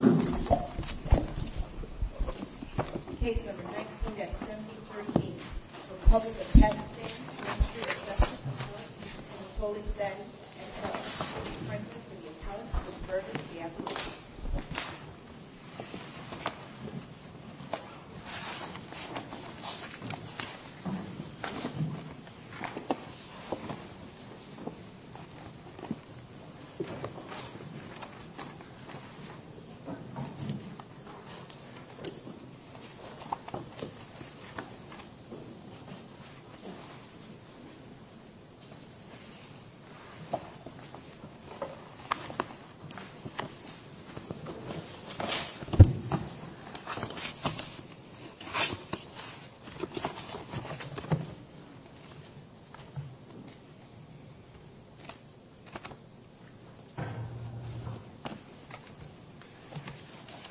Case number 19-73E, Republic of Kazakhstan, Ministry of Justice Authority, Anatolie Stati, N.R. will be presented by the appellant, Mr. Berger, D.A. Mr. Berger, D.A.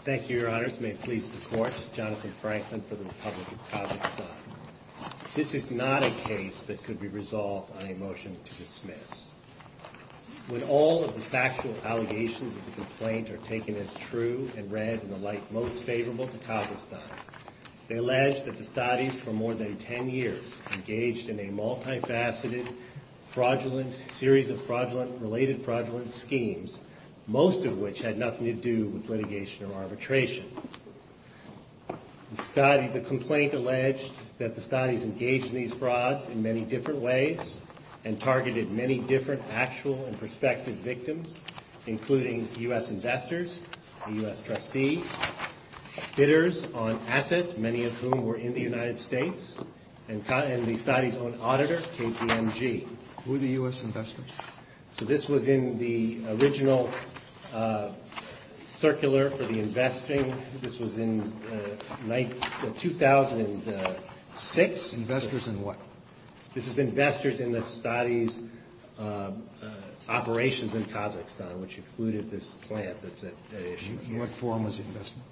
Thank you, Your Honors. May it please the Court, Jonathan Franklin for the Republic of Kazakhstan. This is not a case that could be resolved on a motion to dismiss. When all of the factual allegations of the complaint are taken as true and read in the light most favorable to Kazakhstan, they allege that the statis for more than ten years engaged in a multifaceted fraudulent series of fraudulent, related fraudulent schemes, most of which had nothing to do with litigation or arbitration. The complaint alleged that the statis engaged in these frauds in many different ways and targeted many different actual and prospective victims, including U.S. investors, U.S. trustees, bidders on assets, many of whom were in the United States, and the statis' own auditor, KPMG. Who are the U.S. investors? So this was in the original circular for the investing. This was in 2006. Investors in what? This is investors in the statis' operations in Kazakhstan, which included this plant that's at issue. In what form was the investment?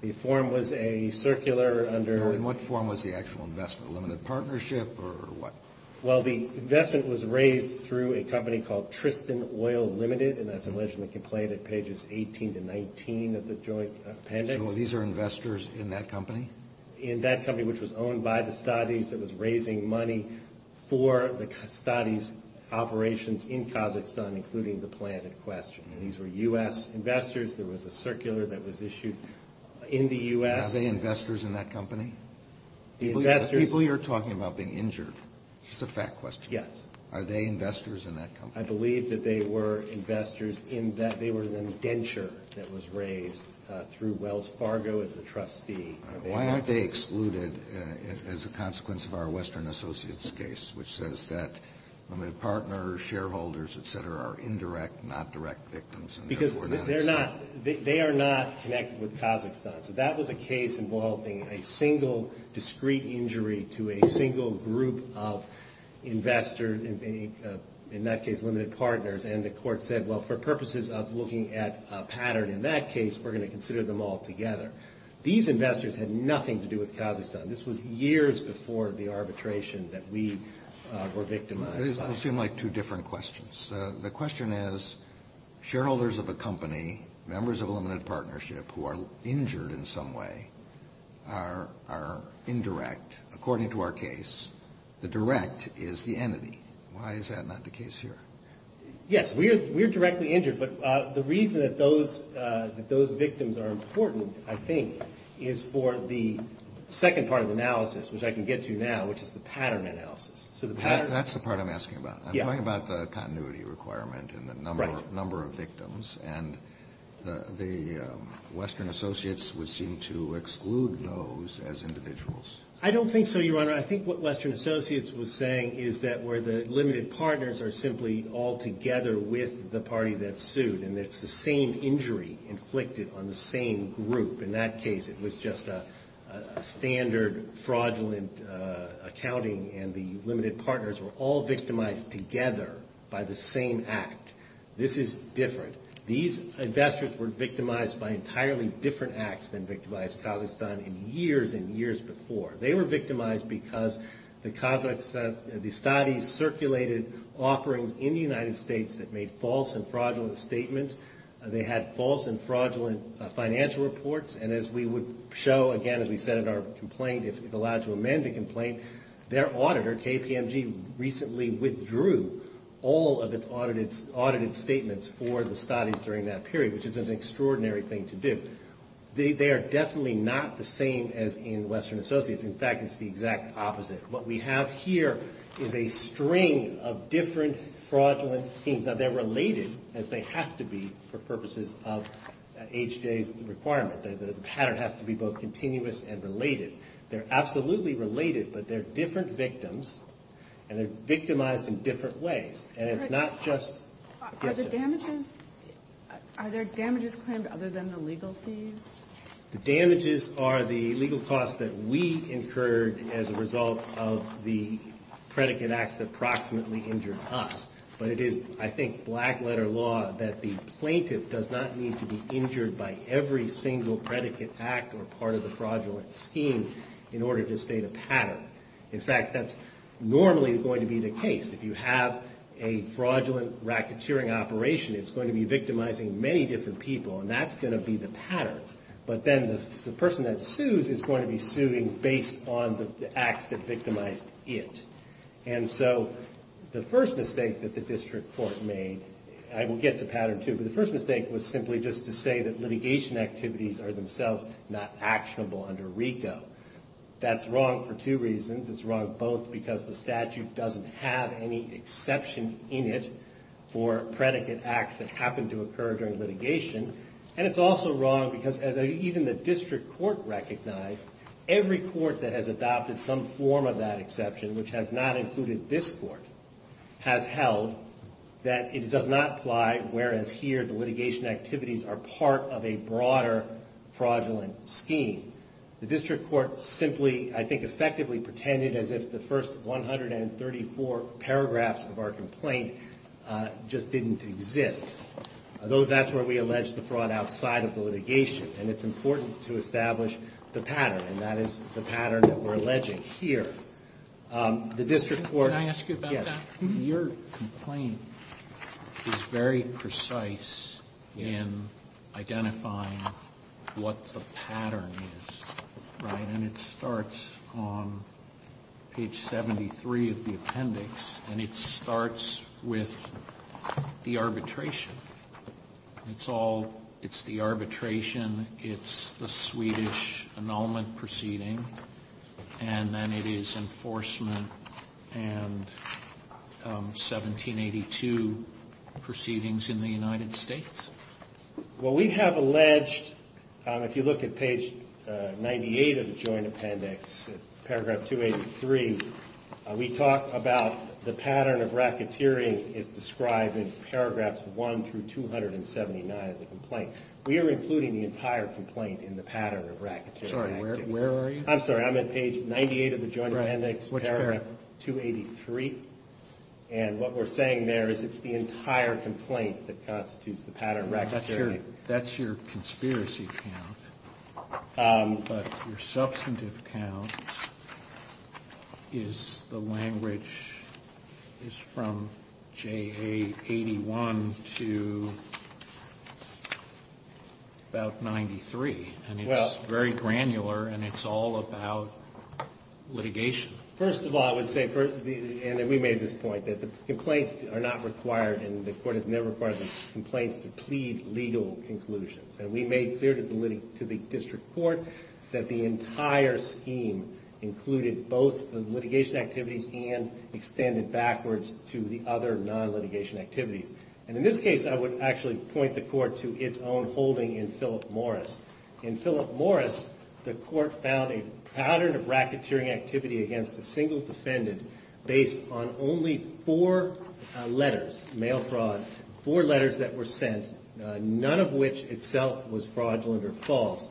The form was a circular under In what form was the actual investment? Limited partnership or what? Well, the investment was raised through a company called Tristan Oil Limited, and that's alleged in the complaint at pages 18 to 19 of the joint appendix. So these are investors in that company? In that company, which was owned by the statis, that was raising money for the statis' operations in Kazakhstan, including the plant at question, and these were U.S. investors. There was a circular that was issued in the U.S. Are they investors in that company? The investors The people you're talking about being injured, just a fact question. Yes. Are they investors in that company? I believe that they were investors in that. They were the indenture that was raised through Wells Fargo as the trustee. Why aren't they excluded as a consequence of our Western Associates case, which says that limited partners, shareholders, et cetera, are indirect, not direct victims, and therefore not a state? Because they're not. They are not connected with Kazakhstan. So that was a case involving a single discrete injury to a single group of investors, in that case limited partners, and the court said, well, for purposes of looking at a pattern in that case, we're going to consider them all together. These investors had nothing to do with Kazakhstan. This was years before the arbitration that we were victimized by. This will seem like two different questions. The question is, shareholders of a company, members of a limited partnership, who are injured in some way, are indirect, according to our case. The direct is the entity. Why is that not the case here? Yes, we are directly injured, but the reason that those victims are important, I think, is for the second part of the analysis, which I can get to now, which is the pattern analysis. That's the part I'm asking about. I'm talking about the continuity requirement and the number of victims, and the Western Associates would seem to exclude those as individuals. I don't think so, Your Honor. I think what Western Associates was saying is that where the limited partners are simply all together with the party that's sued, and it's the same injury inflicted on the same group. In that case, it was just a standard, fraudulent accounting, and the limited partners were all victimized together by the same act. This is different. These investors were victimized by entirely different acts than victimized Kazakhstan in years and years before. They were victimized because the studies circulated offerings in the United States that made false and fraudulent statements. They had false and fraudulent financial reports, and as we would show, again, as we said in our complaint, if allowed to amend the complaint, their auditor, KPMG, recently withdrew all of its audited statements for the studies during that period, which is an extraordinary thing to do. They are definitely not the same as in Western Associates. In fact, it's the exact opposite. What we have here is a string of different fraudulent schemes. Now, they're related, as they have to be for purposes of H.J.'s requirement. The pattern has to be both continuous and related. They're absolutely related, but they're different victims, and they're victimized in different ways, and it's not just H.J. Are there damages claimed other than the legal fees? The damages are the legal costs that we incurred as a result of the predicate acts that approximately injured us, but it is, I think, black-letter law that the plaintiff does not need to be injured by every single predicate act or part of the fraudulent scheme in order to state a pattern. In fact, that's normally going to be the case. If you have a fraudulent racketeering operation, it's going to be victimizing many different people, and that's going to be the pattern. But then the person that sues is going to be suing based on the acts that victimized it. And so the first mistake that the district court made, and I will get to pattern two, but the first mistake was simply just to say that litigation activities are themselves not actionable under RICO. That's wrong for two reasons. It's wrong both because the statute doesn't have any exception in it for predicate acts that happen to occur during litigation, and it's also wrong because even the district court recognized every court that has adopted some form of that exception, which has not included this court, has held that it does not apply, whereas here the litigation activities are part of a broader fraudulent scheme. The district court simply, I think, effectively pretended as if the first 134 paragraphs of our complaint just didn't exist. That's where we allege the fraud outside of the litigation, and it's important to establish the pattern, and that is the pattern that we're alleging here. The district court- Can I ask you about that? Yes. Your complaint is very precise in identifying what the pattern is, right? And it starts on page 73 of the appendix, and it starts with the arbitration. It's the arbitration. It's the Swedish annulment proceeding, and then it is enforcement and 1782 proceedings in the United States. Well, we have alleged, if you look at page 98 of the joint appendix, paragraph 283, we talk about the pattern of racketeering is described in paragraphs 1 through 279 of the complaint. We are including the entire complaint in the pattern of racketeering. Sorry, where are you? I'm sorry, I'm at page 98 of the joint appendix, paragraph 283, and what we're saying there is it's the entire complaint that constitutes the pattern of racketeering. That's your conspiracy count, but your substantive count is the language is from JA 81 to about 93, and it's very granular, and it's all about litigation. First of all, I would say, and we made this point, that the complaints are not required, and the court has never required the complaints to plead legal conclusions, and we made clear to the district court that the entire scheme included both the litigation activities and extended backwards to the other non-litigation activities. And in this case, I would actually point the court to its own holding in Philip Morris. In Philip Morris, the court found a pattern of racketeering activity against a single defendant based on only four letters, mail fraud, four letters that were sent, none of which itself was fraudulent or false.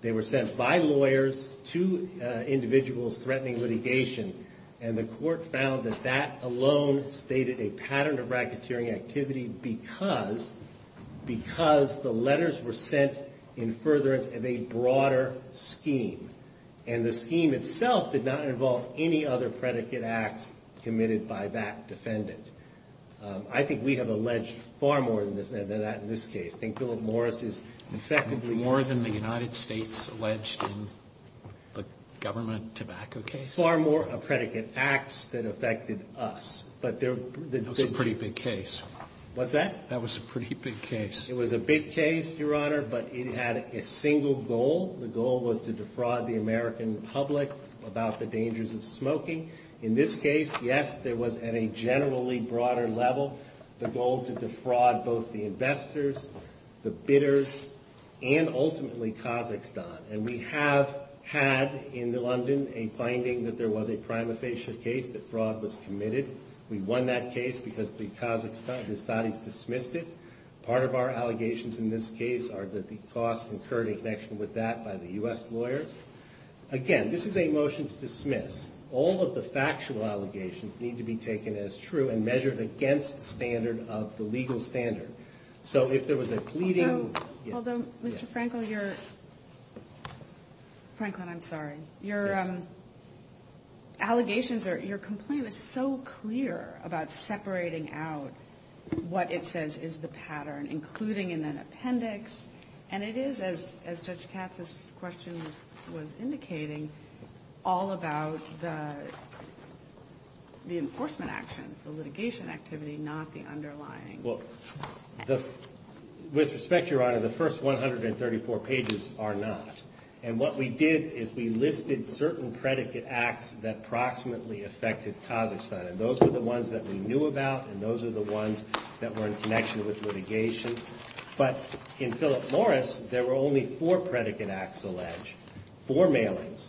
They were sent by lawyers to individuals threatening litigation, and the court found that that alone stated a pattern of racketeering activity because the letters were sent in furtherance of a broader scheme, and the scheme itself did not involve any other predicate acts committed by that defendant. I think we have alleged far more than that in this case. I think Philip Morris is effectively more than the United States alleged in the government tobacco case. Far more predicate acts that affected us. That's a pretty big case. What's that? That was a pretty big case. It was a big case, Your Honor, but it had a single goal. The goal was to defraud the American public about the dangers of smoking. In this case, yes, there was at a generally broader level, the goal to defraud both the investors, the bidders, and ultimately Kazakhstan. And we have had in London a finding that there was a prima facie case that fraud was committed. We won that case because the Kazakhs dismissed it. Part of our allegations in this case are that the costs incurred in connection with that by the U.S. lawyers. Again, this is a motion to dismiss. All of the factual allegations need to be taken as true and measured against the standard of the legal standard. So if there was a pleading— Although, Mr. Franklin, you're—Franklin, I'm sorry. Your allegations are—your complaint is so clear about separating out what it says is the pattern, including in an appendix, and it is, as Judge Katz's question was indicating, all about the enforcement actions, the litigation activity, not the underlying— Well, with respect, Your Honor, the first 134 pages are not. And what we did is we listed certain predicate acts that approximately affected Kazakhstan. And those were the ones that we knew about, and those are the ones that were in connection with litigation. But in Philip Morris, there were only four predicate acts alleged, four mailings,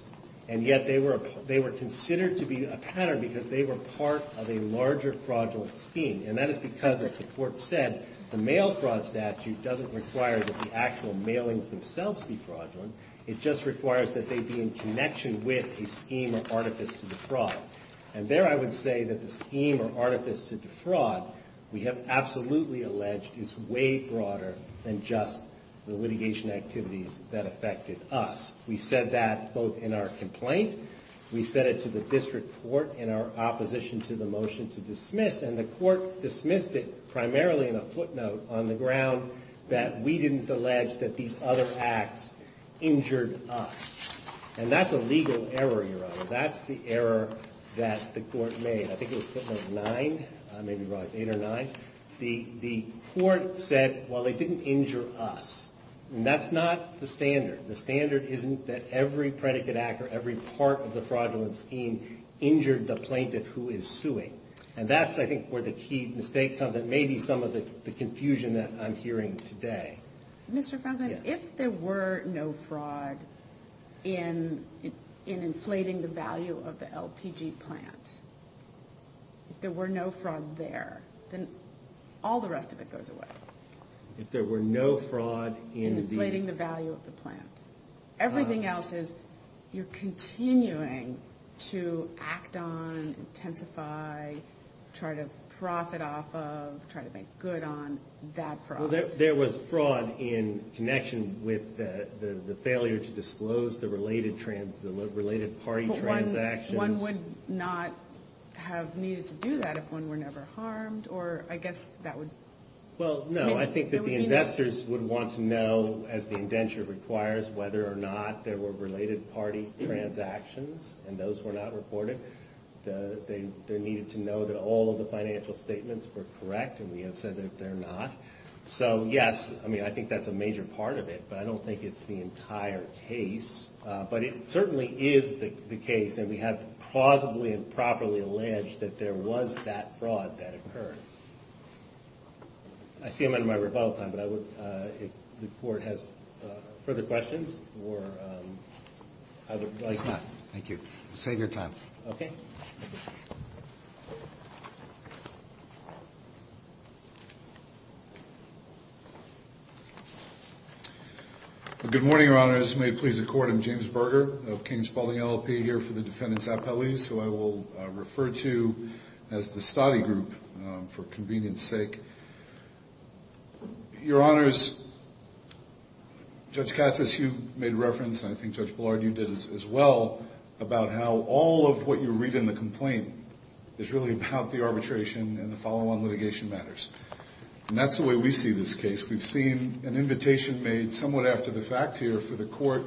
and yet they were considered to be a pattern because they were part of a larger fraudulent scheme. And that is because, as the Court said, the mail fraud statute doesn't require that the actual mailings themselves be fraudulent. It just requires that they be in connection with a scheme or artifice to defraud. And there I would say that the scheme or artifice to defraud, we have absolutely alleged, is way broader than just the litigation activities that affected us. We said that both in our complaint. We said it to the district court in our opposition to the motion to dismiss, and the Court dismissed it primarily in a footnote on the ground that we didn't allege that these other acts injured us. And that's a legal error, Your Honor. That's the error that the Court made. I think it was footnote nine, maybe it was eight or nine. The Court said, well, they didn't injure us. And that's not the standard. The standard isn't that every predicate act or every part of the fraudulent scheme injured the plaintiff who is suing. And that's, I think, where the key mistake comes. It may be some of the confusion that I'm hearing today. Mr. Franklin, if there were no fraud in inflating the value of the LPG plant, if there were no fraud there, then all the rest of it goes away. If there were no fraud in the... In inflating the value of the plant. Everything else is you're continuing to act on, intensify, try to profit off of, try to make good on that fraud. There was fraud in connection with the failure to disclose the related party transactions. But one would not have needed to do that if one were never harmed, or I guess that would... Well, no, I think that the investors would want to know, as the indenture requires, whether or not there were related party transactions, and those were not reported. They needed to know that all of the financial statements were correct, and we have said that they're not. So, yes, I mean, I think that's a major part of it, but I don't think it's the entire case. But it certainly is the case, and we have plausibly and properly alleged that there was that fraud that occurred. I see I'm under my rebuttal time, but I would, if the court has further questions, or I would like to... It's not. Thank you. Save your time. Okay. Good morning, Your Honors. May it please the Court, I'm James Berger of King Spaulding LLP, here for the defendants' appellees, who I will refer to as the study group, for convenience's sake. Your Honors, Judge Katsas, you made reference, and I think Judge Ballard, you did as well, about how all of what you read in the complaint is really about the arbitration and the follow-on litigation matters. And that's the way we see this case. We've seen an invitation made somewhat after the fact here for the court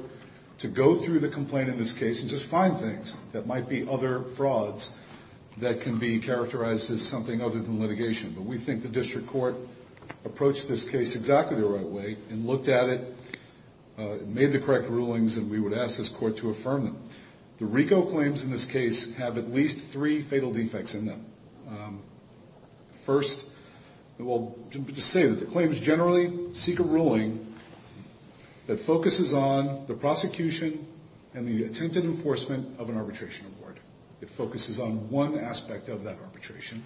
to go through the complaint in this case and just find things that might be other frauds that can be characterized as something other than litigation. But we think the district court approached this case exactly the right way and looked at it, made the correct rulings, and we would ask this court to affirm them. The RICO claims in this case have at least three fatal defects in them. First, we'll just say that the claims generally seek a ruling that focuses on the prosecution and the attempted enforcement of an arbitration report. It focuses on one aspect of that arbitration.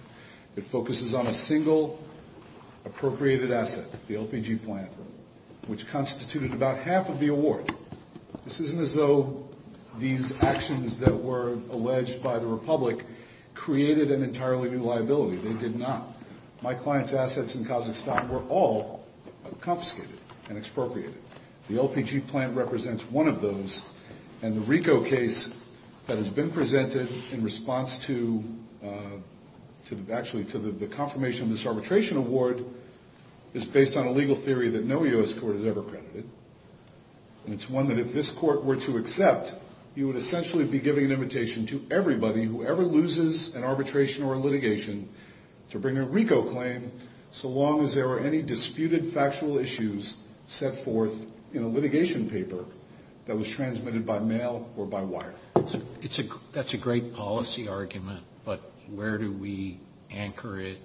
It focuses on a single appropriated asset, the LPG plan, which constituted about half of the award. This isn't as though these actions that were alleged by the Republic created an entirely new liability. They did not. My client's assets in Kazakhstan were all confiscated and expropriated. The LPG plan represents one of those. And the RICO case that has been presented in response to the confirmation of this arbitration award is based on a legal theory that no U.S. court has ever credited. And it's one that if this court were to accept, you would essentially be giving an invitation to everybody who ever loses an arbitration or a litigation to bring a RICO claim so long as there are any disputed factual issues set forth in a litigation paper that was transmitted by mail or by wire. That's a great policy argument, but where do we anchor it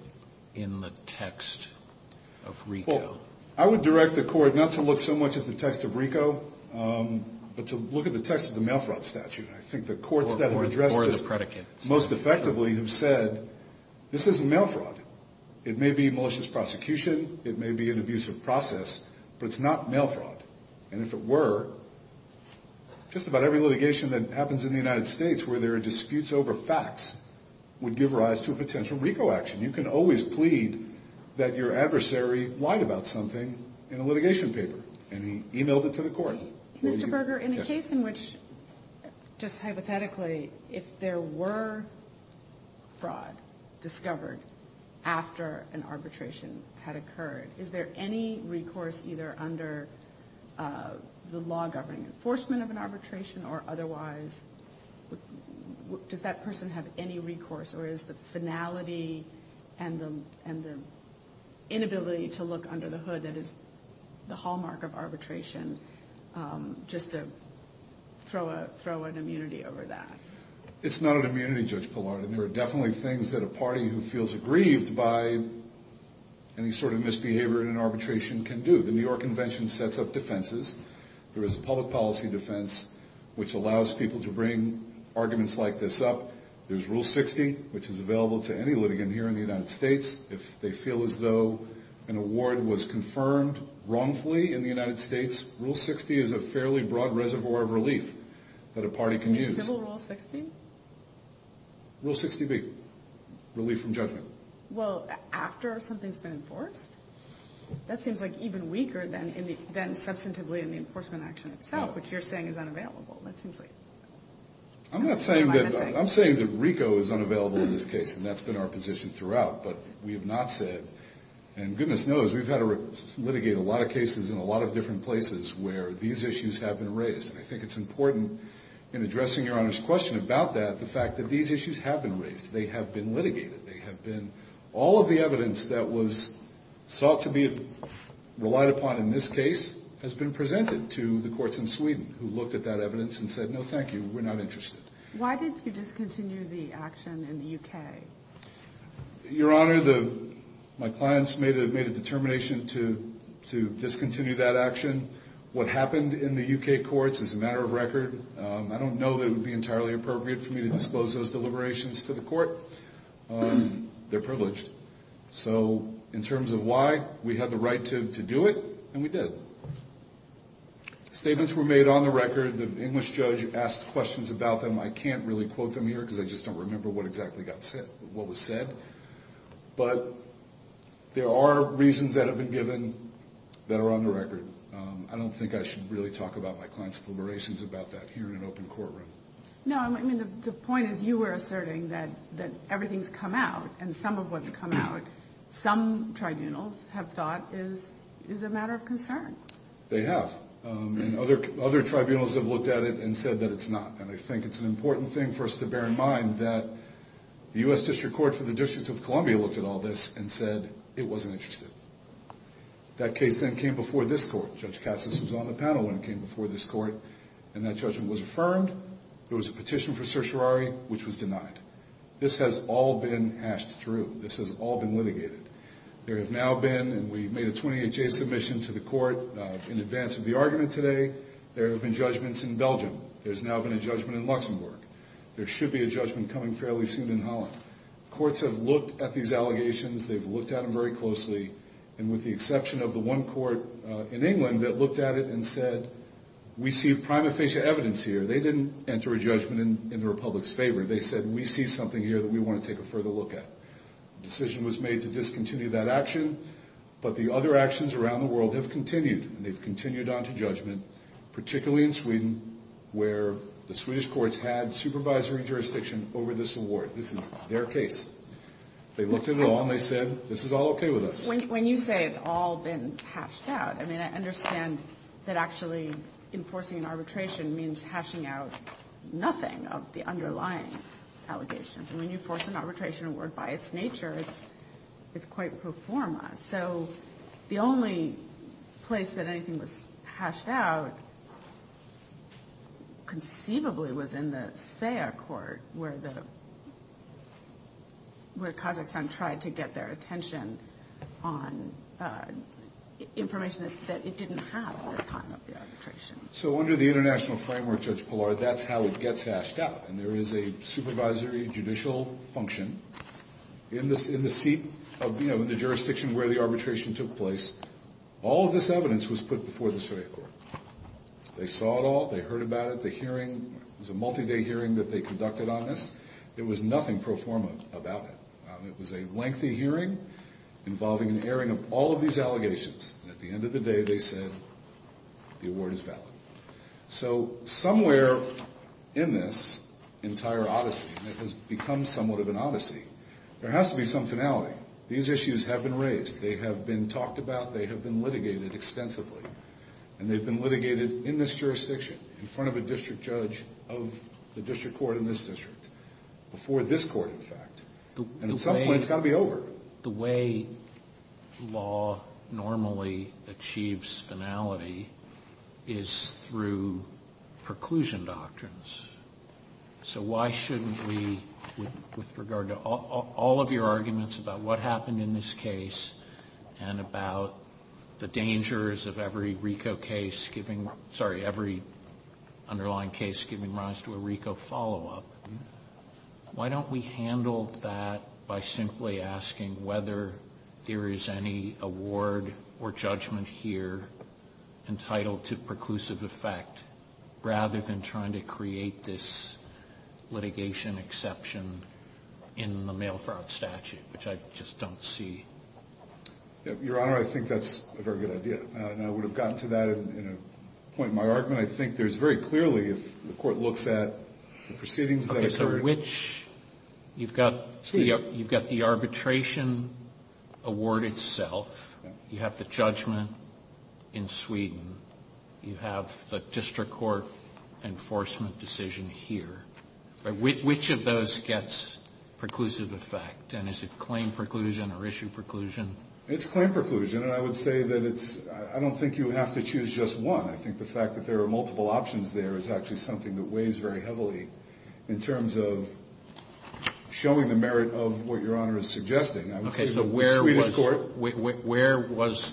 in the text of RICO? I would direct the court not to look so much at the text of RICO, but to look at the text of the mail fraud statute. I think the courts that have addressed this most effectively have said this isn't mail fraud. It may be malicious prosecution. It may be an abusive process, but it's not mail fraud. And if it were, just about every litigation that happens in the United States where there are disputes over facts would give rise to a potential RICO action. You can always plead that your adversary lied about something in a litigation paper, and he emailed it to the court. Mr. Berger, in a case in which, just hypothetically, if there were fraud discovered after an arbitration had occurred, is there any recourse either under the law governing enforcement of an arbitration or otherwise does that person have any recourse, or is the finality and the inability to look under the hood that is the hallmark of arbitration just to throw an immunity over that? It's not an immunity, Judge Pillard, and there are definitely things that a party who feels aggrieved by any sort of misbehavior in an arbitration can do. The New York Convention sets up defenses. There is a public policy defense which allows people to bring arguments like this up. There's Rule 60, which is available to any litigant here in the United States. If they feel as though an award was confirmed wrongfully in the United States, Rule 60 is a fairly broad reservoir of relief that a party can use. Civil Rule 60? Rule 60B, relief from judgment. Well, after something's been enforced? That seems like even weaker than substantively in the enforcement action itself, which you're saying is unavailable. I'm not saying that. I'm saying that RICO is unavailable in this case, and that's been our position throughout, but we have not said, and goodness knows we've had to litigate a lot of cases in a lot of different places where these issues have been raised, and I think it's important in addressing Your Honor's question about that, the fact that these issues have been raised. They have been litigated. All of the evidence that was sought to be relied upon in this case has been presented to the courts in Sweden who looked at that evidence and said, no, thank you, we're not interested. Why did you discontinue the action in the U.K.? Your Honor, my clients made a determination to discontinue that action. What happened in the U.K. courts is a matter of record. I don't know that it would be entirely appropriate for me to disclose those deliberations to the court. They're privileged. So in terms of why, we had the right to do it, and we did. Statements were made on the record. The English judge asked questions about them. I can't really quote them here because I just don't remember what exactly got said, what was said. But there are reasons that have been given that are on the record. I don't think I should really talk about my clients' deliberations about that here in an open courtroom. No, I mean, the point is you were asserting that everything's come out, and some of what's come out some tribunals have thought is a matter of concern. They have. And other tribunals have looked at it and said that it's not. And I think it's an important thing for us to bear in mind that the U.S. District Court for the District of Columbia looked at all this and said it wasn't interesting. That case then came before this court. Judge Cassis was on the panel when it came before this court, and that judgment was affirmed. There was a petition for certiorari, which was denied. This has all been hashed through. This has all been litigated. There have now been, and we made a 28-day submission to the court in advance of the argument today, there have been judgments in Belgium. There's now been a judgment in Luxembourg. There should be a judgment coming fairly soon in Holland. Courts have looked at these allegations. They've looked at them very closely. And with the exception of the one court in England that looked at it and said, we see prima facie evidence here. They didn't enter a judgment in the republic's favor. They said, we see something here that we want to take a further look at. The decision was made to discontinue that action, but the other actions around the world have continued, and they've continued on to judgment, particularly in Sweden, where the Swedish courts had supervisory jurisdiction over this award. This is their case. They looked at it all, and they said, this is all okay with us. When you say it's all been hashed out, I mean, I understand that actually enforcing an arbitration means hashing out nothing of the underlying allegations. And when you force an arbitration award by its nature, it's quite pro forma. So the only place that anything was hashed out conceivably was in the SVEA court, where Kazakhstan tried to get their attention on information that it didn't have at the time of the arbitration. So under the international framework, Judge Pillar, that's how it gets hashed out. And there is a supervisory judicial function in the seat of the jurisdiction where the arbitration took place. All of this evidence was put before the SVEA court. They saw it all. They heard about it. The hearing was a multi-day hearing that they conducted on this. There was nothing pro forma about it. It was a lengthy hearing involving an airing of all of these allegations. At the end of the day, they said the award is valid. So somewhere in this entire odyssey, and it has become somewhat of an odyssey, there has to be some finality. These issues have been raised. They have been talked about. They have been litigated extensively. And they've been litigated in this jurisdiction in front of a district judge of the district court in this district, before this court, in fact. And at some point, it's got to be over. The way law normally achieves finality is through preclusion doctrines. So why shouldn't we, with regard to all of your arguments about what happened in this case and about the dangers of every RICO case giving rise to a RICO follow-up, why don't we handle that by simply asking whether there is any award or judgment here entitled to preclusive effect, rather than trying to create this litigation exception in the mail fraud statute, which I just don't see. Your Honor, I think that's a very good idea. And I would have gotten to that in a point in my argument. I think there's very clearly, if the court looks at the proceedings that occurred. You've got the arbitration award itself. You have the judgment in Sweden. You have the district court enforcement decision here. Which of those gets preclusive effect? And is it claim preclusion or issue preclusion? It's claim preclusion. And I would say that I don't think you have to choose just one. I think the fact that there are multiple options there is actually something that weighs very heavily in terms of showing the merit of what Your Honor is suggesting. Okay, so where was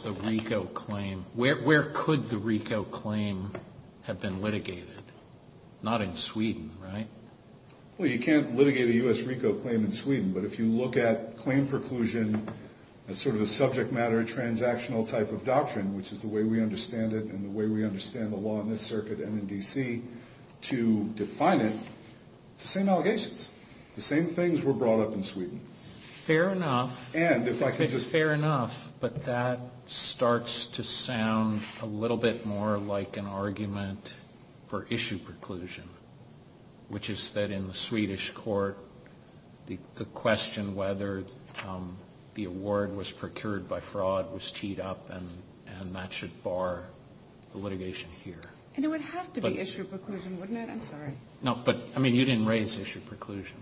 the RICO claim? Where could the RICO claim have been litigated? Not in Sweden, right? Well, you can't litigate a U.S. RICO claim in Sweden. But if you look at claim preclusion as sort of a subject matter transactional type of doctrine, which is the way we understand it and the way we understand the law in this circuit and in D.C. to define it, it's the same allegations. The same things were brought up in Sweden. Fair enough. And if I could just ---- It's fair enough. But that starts to sound a little bit more like an argument for issue preclusion, which is that in the Swedish court, the question whether the award was procured by fraud was teed up, and that should bar the litigation here. And it would have to be issue preclusion, wouldn't it? I'm sorry. No, but, I mean, you didn't raise issue preclusion.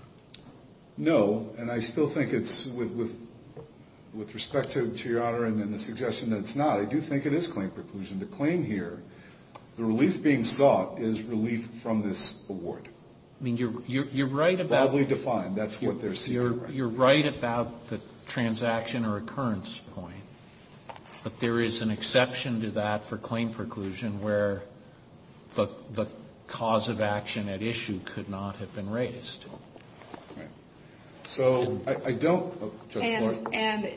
No, and I still think it's, with respect to Your Honor and the suggestion that it's not, I do think it is claim preclusion. The claim here, the relief being sought is relief from this award. I mean, you're right about the transaction or occurrence point, but there is an exception to that for claim preclusion where the cause of action at issue could not have been raised. Right. So I don't ---- And,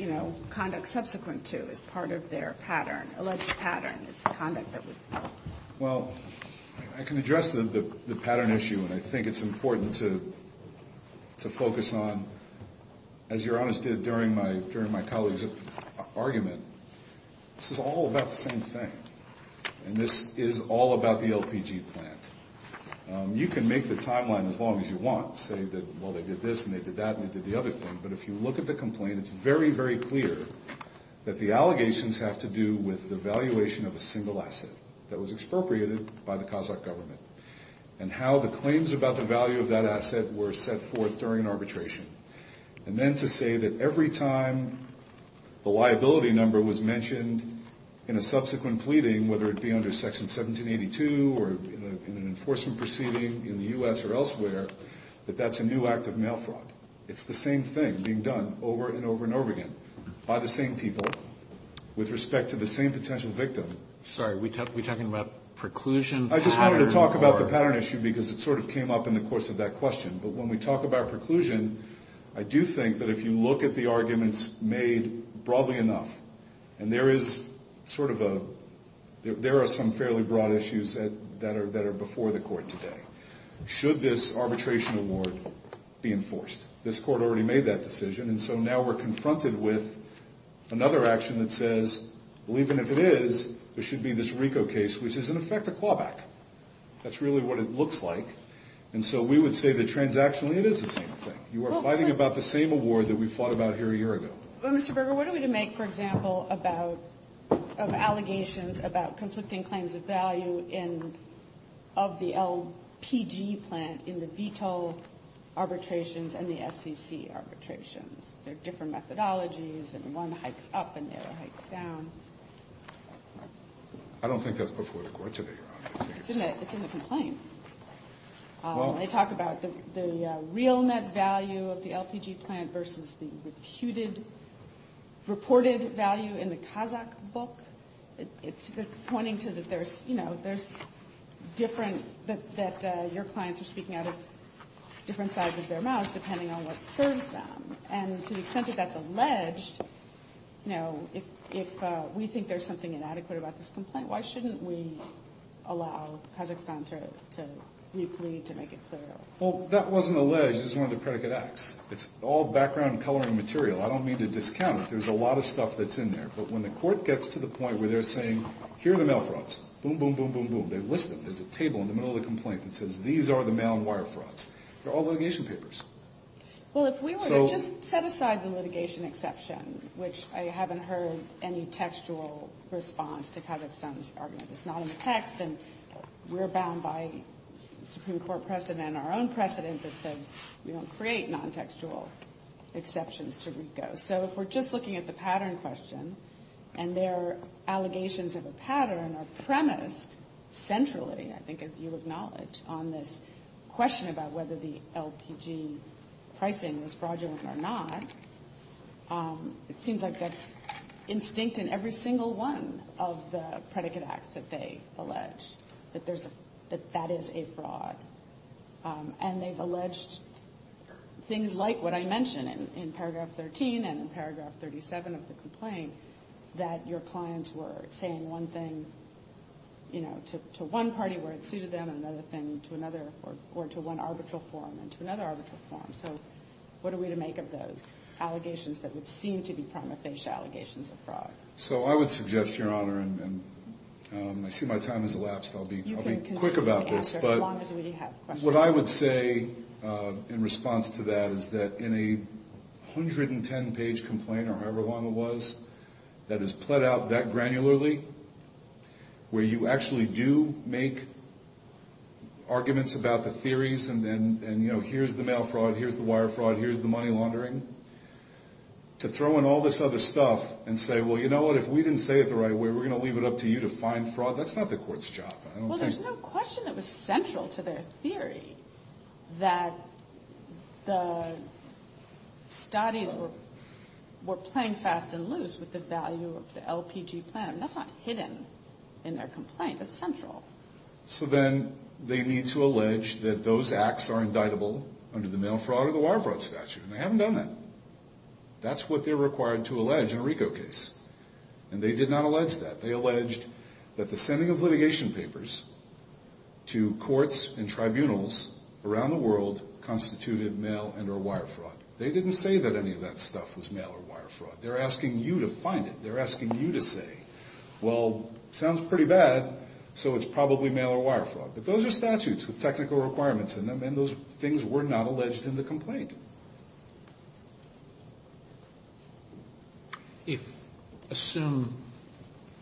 you know, conduct subsequent to is part of their pattern, alleged pattern is the conduct that was ---- Well, I can address the pattern issue, and I think it's important to focus on, as Your Honor did during my colleague's argument, this is all about the same thing, and this is all about the LPG plant. You can make the timeline as long as you want, say that, well, they did this and they did that and they did the other thing, but if you look at the complaint, it's very, very clear that the allegations have to do with the valuation of a single asset that was expropriated by the Kazakh government and how the claims about the value of that asset were set forth during arbitration. And then to say that every time the liability number was mentioned in a subsequent pleading, whether it be under Section 1782 or in an enforcement proceeding in the U.S. or elsewhere, that that's a new act of mail fraud. It's the same thing being done over and over and over again by the same people with respect to the same potential victim. Sorry, are we talking about preclusion? I just wanted to talk about the pattern issue because it sort of came up in the course of that question, but when we talk about preclusion, I do think that if you look at the arguments made broadly enough, and there are some fairly broad issues that are before the Court today. Should this arbitration award be enforced? This Court already made that decision, and so now we're confronted with another action that says, even if it is, it should be this RICO case, which is in effect a clawback. That's really what it looks like, and so we would say that transactionally it is the same thing. You are fighting about the same award that we fought about here a year ago. Well, Mr. Berger, what are we to make, for example, of allegations about conflicting claims of value of the LPG plant in the veto arbitrations and the SEC arbitrations? There are different methodologies, and one hikes up and the other hikes down. I don't think that's before the Court today, Your Honor. It's in the complaint. They talk about the real net value of the LPG plant versus the reported value in the Kazakh book. They're pointing to that there's different, that your clients are speaking out of different sides of their mouths depending on what serves them, and to the extent that that's alleged, if we think there's something inadequate about this complaint, why shouldn't we allow Kazakhstan to replete, to make it clear? Well, that wasn't alleged. This is one of the predicate acts. It's all background and coloring material. I don't mean to discount it. There's a lot of stuff that's in there, but when the Court gets to the point where they're saying, here are the mail frauds, boom, boom, boom, boom, boom, they've listed them. There's a table in the middle of the complaint that says these are the mail and wire frauds. They're all litigation papers. Well, if we were to just set aside the litigation exception, which I haven't heard any textual response to Kazakhstan's argument. It's not in the text, and we're bound by Supreme Court precedent, our own precedent that says we don't create non-textual exceptions to RICO. So if we're just looking at the pattern question, and their allegations of a pattern are premised centrally, I think, as you acknowledge, on this question about whether the LPG pricing was fraudulent or not, it seems like that's instinct in every single one of the predicate acts that they allege, that that is a fraud. And they've alleged things like what I mentioned in paragraph 13 and in paragraph 37 of the complaint, that your clients were saying one thing, you know, to one party where it suited them, and another thing to another or to one arbitral forum and to another arbitral forum. So what are we to make of those allegations that would seem to be prima facie allegations of fraud? So I would suggest, Your Honor, and I see my time has elapsed. I'll be quick about this, but what I would say in response to that is that in a 110-page complaint, or however long it was, that is pled out that granularly, where you actually do make arguments about the theories and, you know, here's the mail fraud, here's the wire fraud, here's the money laundering, to throw in all this other stuff and say, well, you know what, if we didn't say it the right way, we're going to leave it up to you to find fraud, that's not the court's job. Well, there's no question it was central to their theory that the studies were playing fast and loose with the value of the LPG plan. That's not hidden in their complaint. It's central. So then they need to allege that those acts are indictable under the mail fraud or the wire fraud statute, and they haven't done that. That's what they're required to allege in a RICO case, and they did not allege that. They alleged that the sending of litigation papers to courts and tribunals around the world constituted mail and or wire fraud. They didn't say that any of that stuff was mail or wire fraud. They're asking you to find it. They're asking you to say, well, sounds pretty bad, so it's probably mail or wire fraud. But those are statutes with technical requirements in them, and those things were not alleged in the complaint. Assume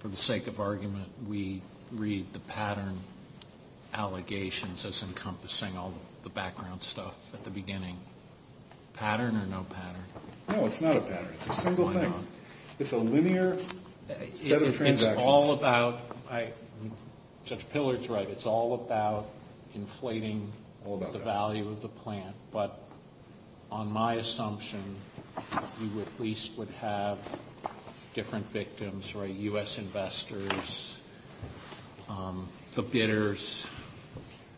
for the sake of argument we read the pattern allegations as encompassing all the background stuff at the beginning. Pattern or no pattern? No, it's not a pattern. It's a single thing. Why not? It's a linear set of transactions. It's all about, Judge Pillard's right, it's all about inflating the value of the plan, but on my assumption, you at least would have different victims, right, U.S. investors, the bidders,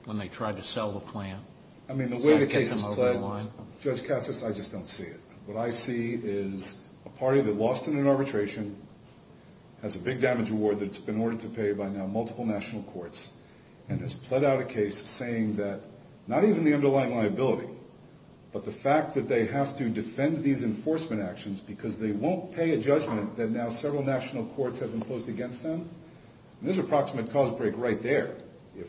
when they tried to sell the plan. I mean, the way the case is played, Judge Cassis, I just don't see it. What I see is a party that lost in an arbitration, has a big damage award that's been ordered to pay by now but the fact that they have to defend these enforcement actions because they won't pay a judgment that now several national courts have imposed against them, there's an approximate cause break right there.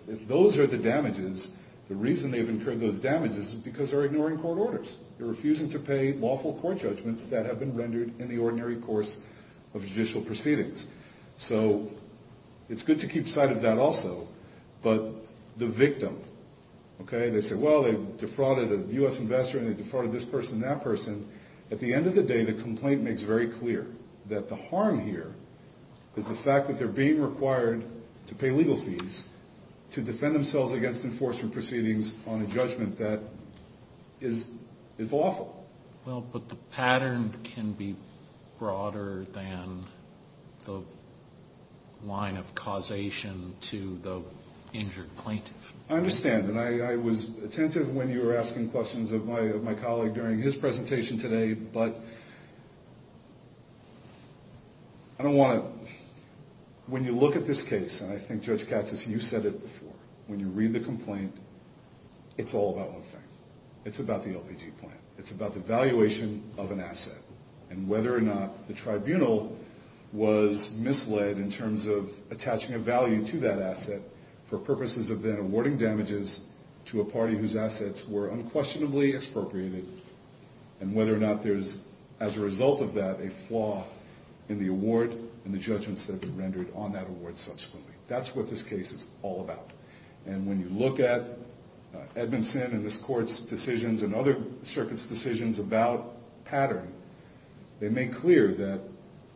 If those are the damages, the reason they've incurred those damages is because they're ignoring court orders. They're refusing to pay lawful court judgments that have been rendered in the ordinary course of judicial proceedings. So it's good to keep sight of that also, but the victim, okay, they say, they defrauded a U.S. investor and they defrauded this person and that person. At the end of the day, the complaint makes very clear that the harm here is the fact that they're being required to pay legal fees to defend themselves against enforcement proceedings on a judgment that is awful. Well, but the pattern can be broader than the line of causation to the injured plaintiff. I understand, and I was attentive when you were asking questions of my colleague during his presentation today, but I don't want to, when you look at this case, and I think Judge Katsas, you said it before, when you read the complaint, it's all about one thing. It's about the LPG plan. It's about the valuation of an asset and whether or not the tribunal was misled in terms of attaching a value to that asset for purposes of then awarding damages to a party whose assets were unquestionably expropriated and whether or not there's, as a result of that, a flaw in the award and the judgments that have been rendered on that award subsequently. That's what this case is all about. And when you look at Edmondson and this Court's decisions and other circuits' decisions about pattern, they make clear that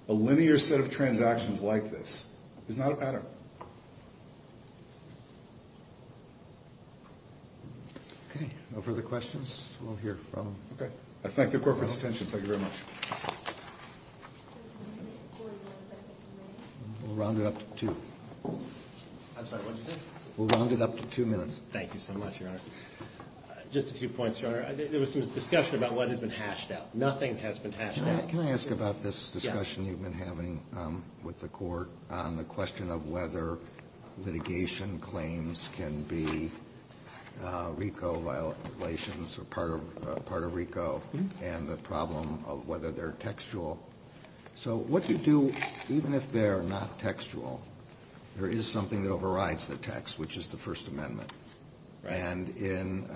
a linear set of transactions like this is not a pattern. Okay. No further questions? We'll hear from them. Okay. I thank the Court for its attention. Thank you very much. We'll round it up to two. I'm sorry, what did you say? We'll round it up to two minutes. Thank you so much, Your Honor. Just a few points, Your Honor. There was some discussion about what has been hashed out. Nothing has been hashed out. Can I ask about this discussion you've been having with the Court on the question of whether litigation claims can be RICO violations or part of RICO and the problem of whether they're textual? So what you do, even if they're not textual, there is something that overrides the text, which is the First Amendment. And in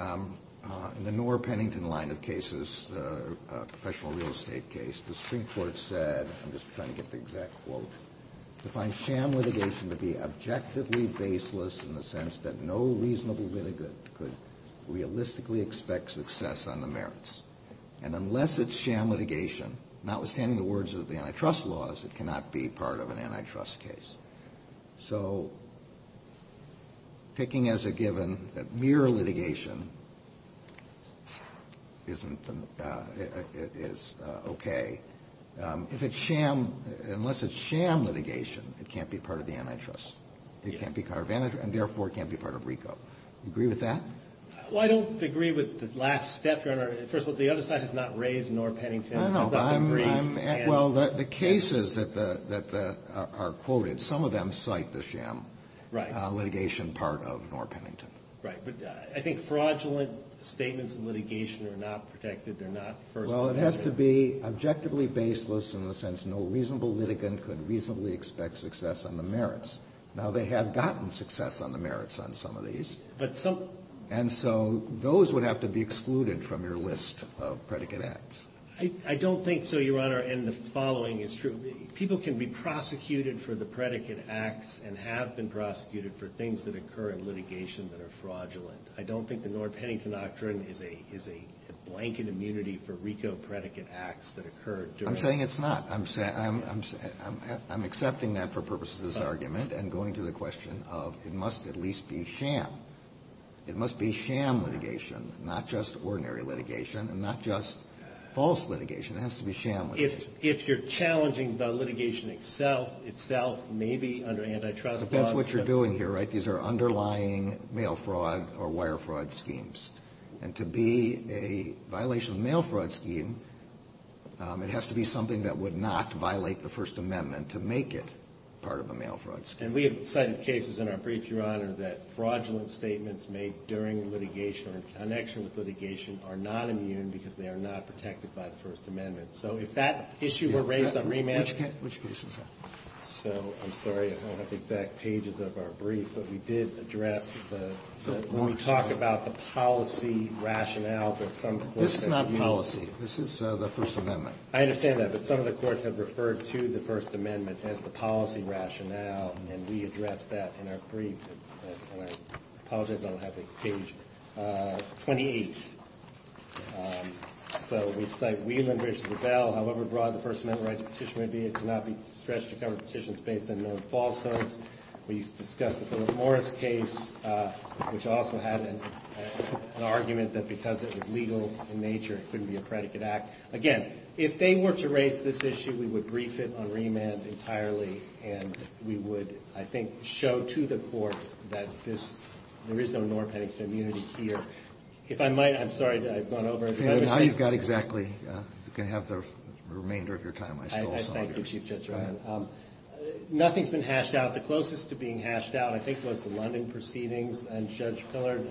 the Noor-Pennington line of cases, the professional real estate case, the Supreme Court said, I'm just trying to get the exact quote, defines sham litigation to be objectively baseless in the sense that no reasonable litigant could realistically expect success on the merits. And unless it's sham litigation, notwithstanding the words of the antitrust laws, it cannot be part of an antitrust case. So picking as a given that mere litigation is okay, unless it's sham litigation, it can't be part of the antitrust. It can't be part of RICO. Do you agree with that? Well, I don't agree with the last step, Your Honor. First of all, the other side has not raised Noor-Pennington. Well, the cases that are quoted, some of them cite the sham litigation part of Noor-Pennington. Right. But I think fraudulent statements of litigation are not protected. They're not First Amendment. Well, it has to be objectively baseless in the sense no reasonable litigant could reasonably expect success on the merits. Now, they have gotten success on the merits on some of these. And so those would have to be excluded from your list of predicate acts. I don't think so, Your Honor, and the following is true. People can be prosecuted for the predicate acts and have been prosecuted for things that occur in litigation that are fraudulent. I don't think the Noor-Pennington Doctrine is a blanket immunity for RICO predicate acts that occurred. I'm saying it's not. I'm accepting that for purposes of this argument and going to the question of it must at least be sham. It must be sham litigation, not just ordinary litigation, and not just false litigation. It has to be sham litigation. If you're challenging the litigation itself, itself may be under antitrust laws. But that's what you're doing here, right? These are underlying mail fraud or wire fraud schemes. And to be a violation of a mail fraud scheme, it has to be something that would not violate the First Amendment to make it part of a mail fraud scheme. And we have cited cases in our brief, Your Honor, that fraudulent statements made during litigation or in connection with litigation are not immune because they are not protected by the First Amendment. So if that issue were raised on remand. Which case is that? So I'm sorry I don't have the exact pages of our brief, but we did address when we talk about the policy rationales of some courts. This is not policy. This is the First Amendment. I understand that. But some of the courts have referred to the First Amendment as the policy rationale, and we address that in our brief. And I apologize I don't have page 28. So we cite Wieland v. LaBelle, however broad the First Amendment right to petition may be, it cannot be stretched to cover petitions based on known falsehoods. We discussed the Philip Morris case, which also had an argument that because it was legal in nature, it couldn't be a predicate act. Again, if they were to raise this issue, we would brief it on remand entirely, and we would, I think, show to the court that this, there is no norm for immunity here. If I might, I'm sorry I've gone over. Now you've got exactly, you can have the remainder of your time. I stole some of yours. Thank you, Chief Judge. Go ahead. Nothing's been hashed out. The closest to being hashed out I think was the London proceedings, and Judge Pillard.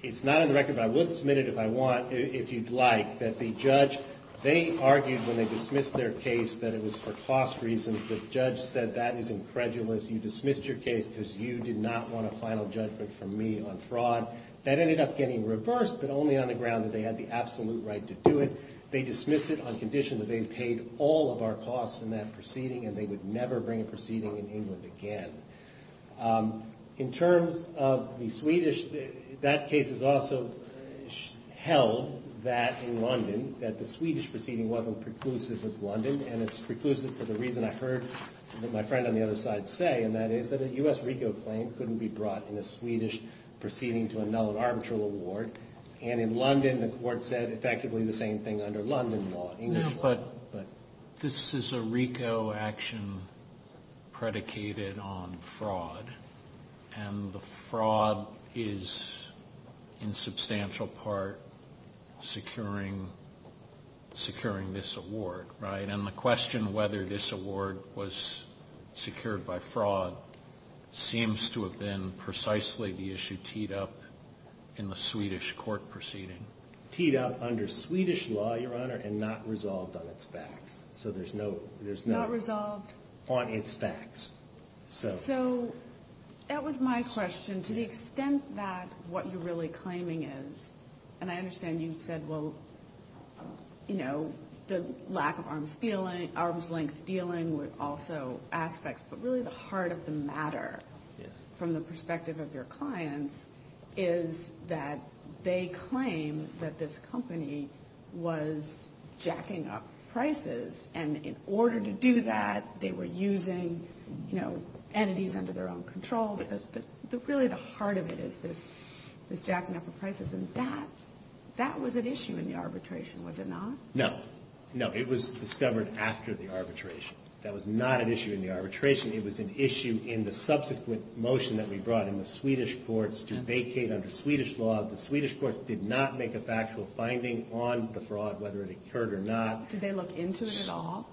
It's not on the record, but I will submit it if I want, if you'd like, that the judge, they argued when they dismissed their case that it was for cost reasons. The judge said that is incredulous. You dismissed your case because you did not want a final judgment from me on fraud. That ended up getting reversed, but only on the ground that they had the absolute right to do it. They dismissed it on condition that they paid all of our costs in that proceeding, and they would never bring a proceeding in England again. In terms of the Swedish, that case is also held that in London that the Swedish proceeding wasn't preclusive with London, and it's preclusive for the reason I heard that my friend on the other side say, and that is that a U.S.-RICO claim couldn't be brought in a Swedish proceeding to a null and arbitral award, and in London the court said effectively the same thing under London law, English law. But this is a RICO action predicated on fraud, and the fraud is in substantial part securing this award, right? And the question whether this award was secured by fraud seems to have been precisely the issue teed up in the Swedish court proceeding. Teed up under Swedish law, Your Honor, and not resolved on its facts. So there's no... Not resolved... On its facts. So that was my question. To the extent that what you're really claiming is, and I understand you said, well, you know, the lack of arm's length dealing with also aspects, but really the heart of the matter from the perspective of your clients is that they claim that this company was jacking up prices, and in order to do that they were using, you know, entities under their own control, but really the heart of it is this jacking up of prices, and that was at issue in the arbitration, was it not? No. No, it was discovered after the arbitration. That was not an issue in the arbitration. It was an issue in the subsequent motion that we brought in the Swedish courts to vacate under Swedish law. The Swedish courts did not make a factual finding on the fraud, whether it occurred or not. Did they look into it at all?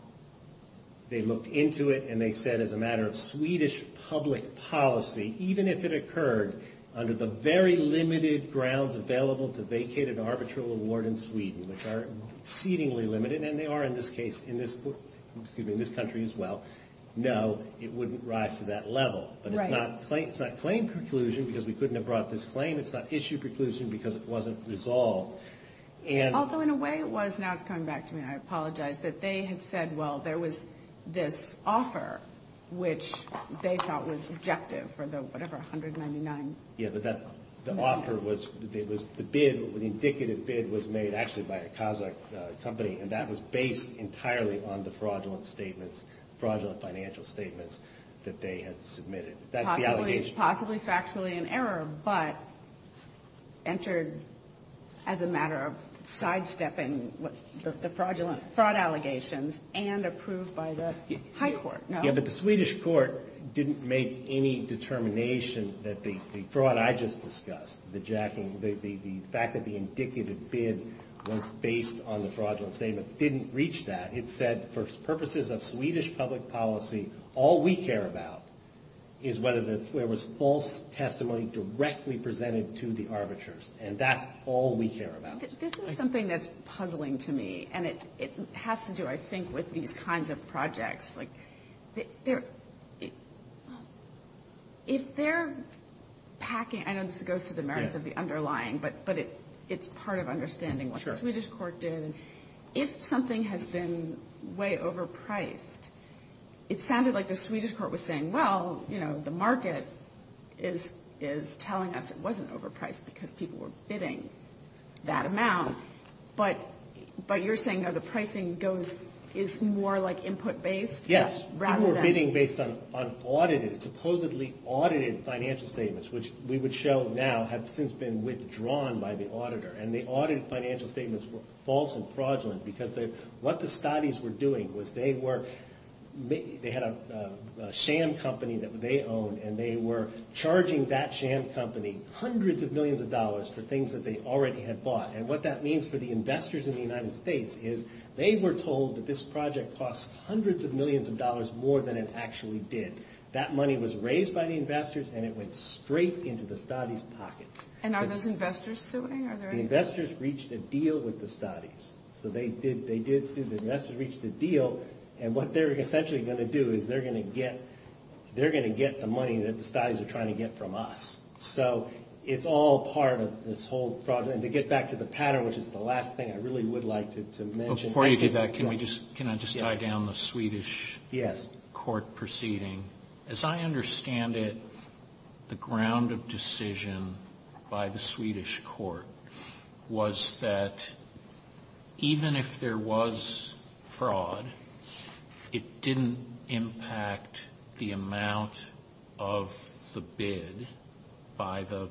They looked into it, and they said, as a matter of Swedish public policy, even if it occurred under the very limited grounds available to vacate an arbitral award in Sweden, which are exceedingly limited, and they are in this case in this country as well, no, it wouldn't rise to that level. But it's not claim preclusion because we couldn't have brought this claim. It's not issue preclusion because it wasn't resolved. Although in a way it was, now it's coming back to me, and I apologize, that they had said, which they thought was objective for the, whatever, $199 million. Yeah, but the offer was, the bid, the indicative bid was made actually by a Kazakh company, and that was based entirely on the fraudulent statements, fraudulent financial statements that they had submitted. That's the allegation. Possibly factually in error, but entered as a matter of sidestepping the fraud allegations and approved by the high court. Yeah, but the Swedish court didn't make any determination that the fraud I just discussed, the jacking, the fact that the indicative bid was based on the fraudulent statement, didn't reach that. It said for purposes of Swedish public policy, all we care about is whether there was false testimony directly presented to the arbiters, and that's all we care about. This is something that's puzzling to me, and it has to do, I think, with these kinds of projects. If they're packing, I know this goes to the merits of the underlying, but it's part of understanding what the Swedish court did. If something has been way overpriced, it sounded like the Swedish court was saying, well, the market is telling us it wasn't overpriced because people were bidding that amount, but you're saying the pricing is more input-based? Yes, people were bidding based on audited, supposedly audited financial statements, which we would show now have since been withdrawn by the auditor, and the audited financial statements were false and fraudulent because what the studies were doing was they had a sham company that they owned, and they were charging that sham company hundreds of millions of dollars for things that they already had bought, and what that means for the investors in the United States is they were told that this project costs hundreds of millions of dollars more than it actually did. That money was raised by the investors, and it went straight into the studies' pockets. And are those investors suing? The investors reached a deal with the studies, so they did sue. The investors reached a deal, and what they're essentially going to do is they're going to get the money that the studies are trying to get from us, so it's all part of this whole fraud, and to get back to the pattern, which is the last thing I really would like to mention. Before you do that, can I just tie down the Swedish court proceeding? Yes. As I understand it, the ground of decision by the Swedish court was that even if there was fraud, it didn't impact the amount of the bid by the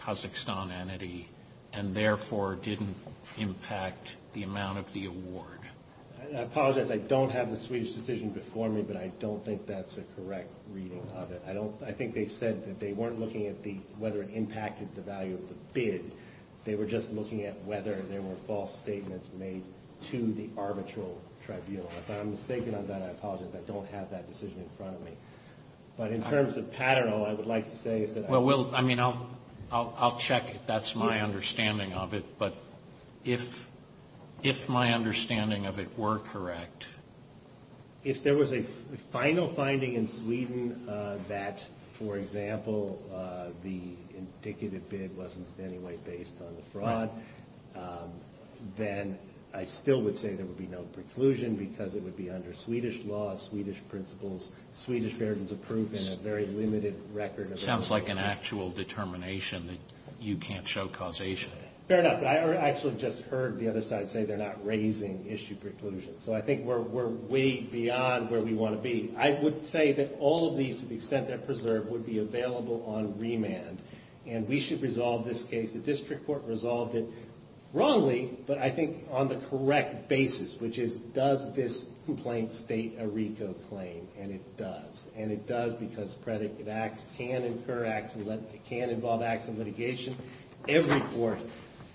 Kazakhstan entity, and therefore didn't impact the amount of the award. I apologize. I don't have the Swedish decision before me, but I don't think that's a correct reading of it. I think they said that they weren't looking at whether it impacted the value of the bid. They were just looking at whether there were false statements made to the arbitral tribunal. If I'm mistaken on that, I apologize. I don't have that decision in front of me. But in terms of pattern, all I would like to say is that I... Well, I'll check if that's my understanding of it, but if my understanding of it were correct... If there was a final finding in Sweden that, for example, the indicative bid wasn't in any way based on the fraud, then I still would say there would be no preclusion because it would be under Swedish law, Swedish principles, Swedish versions of proof, and a very limited record of... Sounds like an actual determination that you can't show causation. Fair enough, but I actually just heard the other side say they're not raising issue preclusions. So I think we're way beyond where we want to be. I would say that all of these, to the extent they're preserved, would be available on remand, and we should resolve this case. The district court resolved it wrongly, but I think on the correct basis, which is does this complaint state a RICO claim, and it does, and it does because predictive acts can involve acts of litigation. Every court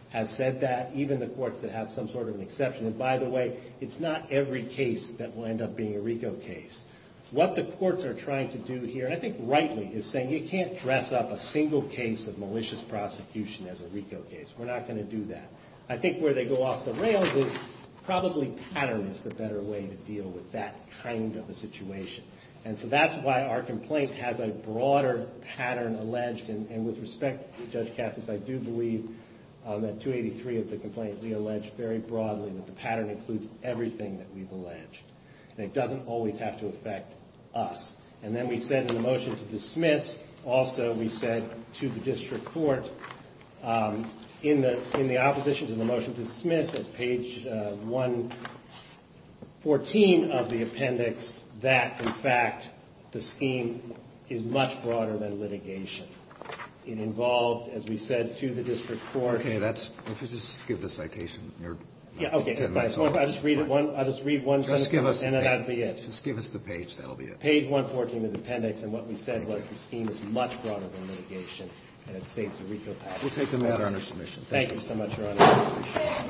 has said that, even the courts that have some sort of an exception. And by the way, it's not every case that will end up being a RICO case. What the courts are trying to do here, and I think rightly, is saying you can't dress up a single case of malicious prosecution as a RICO case. We're not going to do that. I think where they go off the rails is probably patterns is the better way to deal with that kind of a situation. And so that's why our complaint has a broader pattern alleged, and with respect to Judge Cassis, I do believe that 283 of the complaint we allege very broadly that the pattern includes everything that we've alleged. And it doesn't always have to affect us. And then we said in the motion to dismiss, also we said to the district court, in the opposition to the motion to dismiss, at page 114 of the appendix, that, in fact, the scheme is much broader than litigation. It involved, as we said, to the district court. Okay, let's just give the citation. Okay, I'll just read one sentence, and that'll be it. Just give us the page, that'll be it. Page 114 of the appendix, and what we said was the scheme is much broader than litigation, and it states a RICO pattern. We'll take the matter under submission. Thank you so much, Your Honor.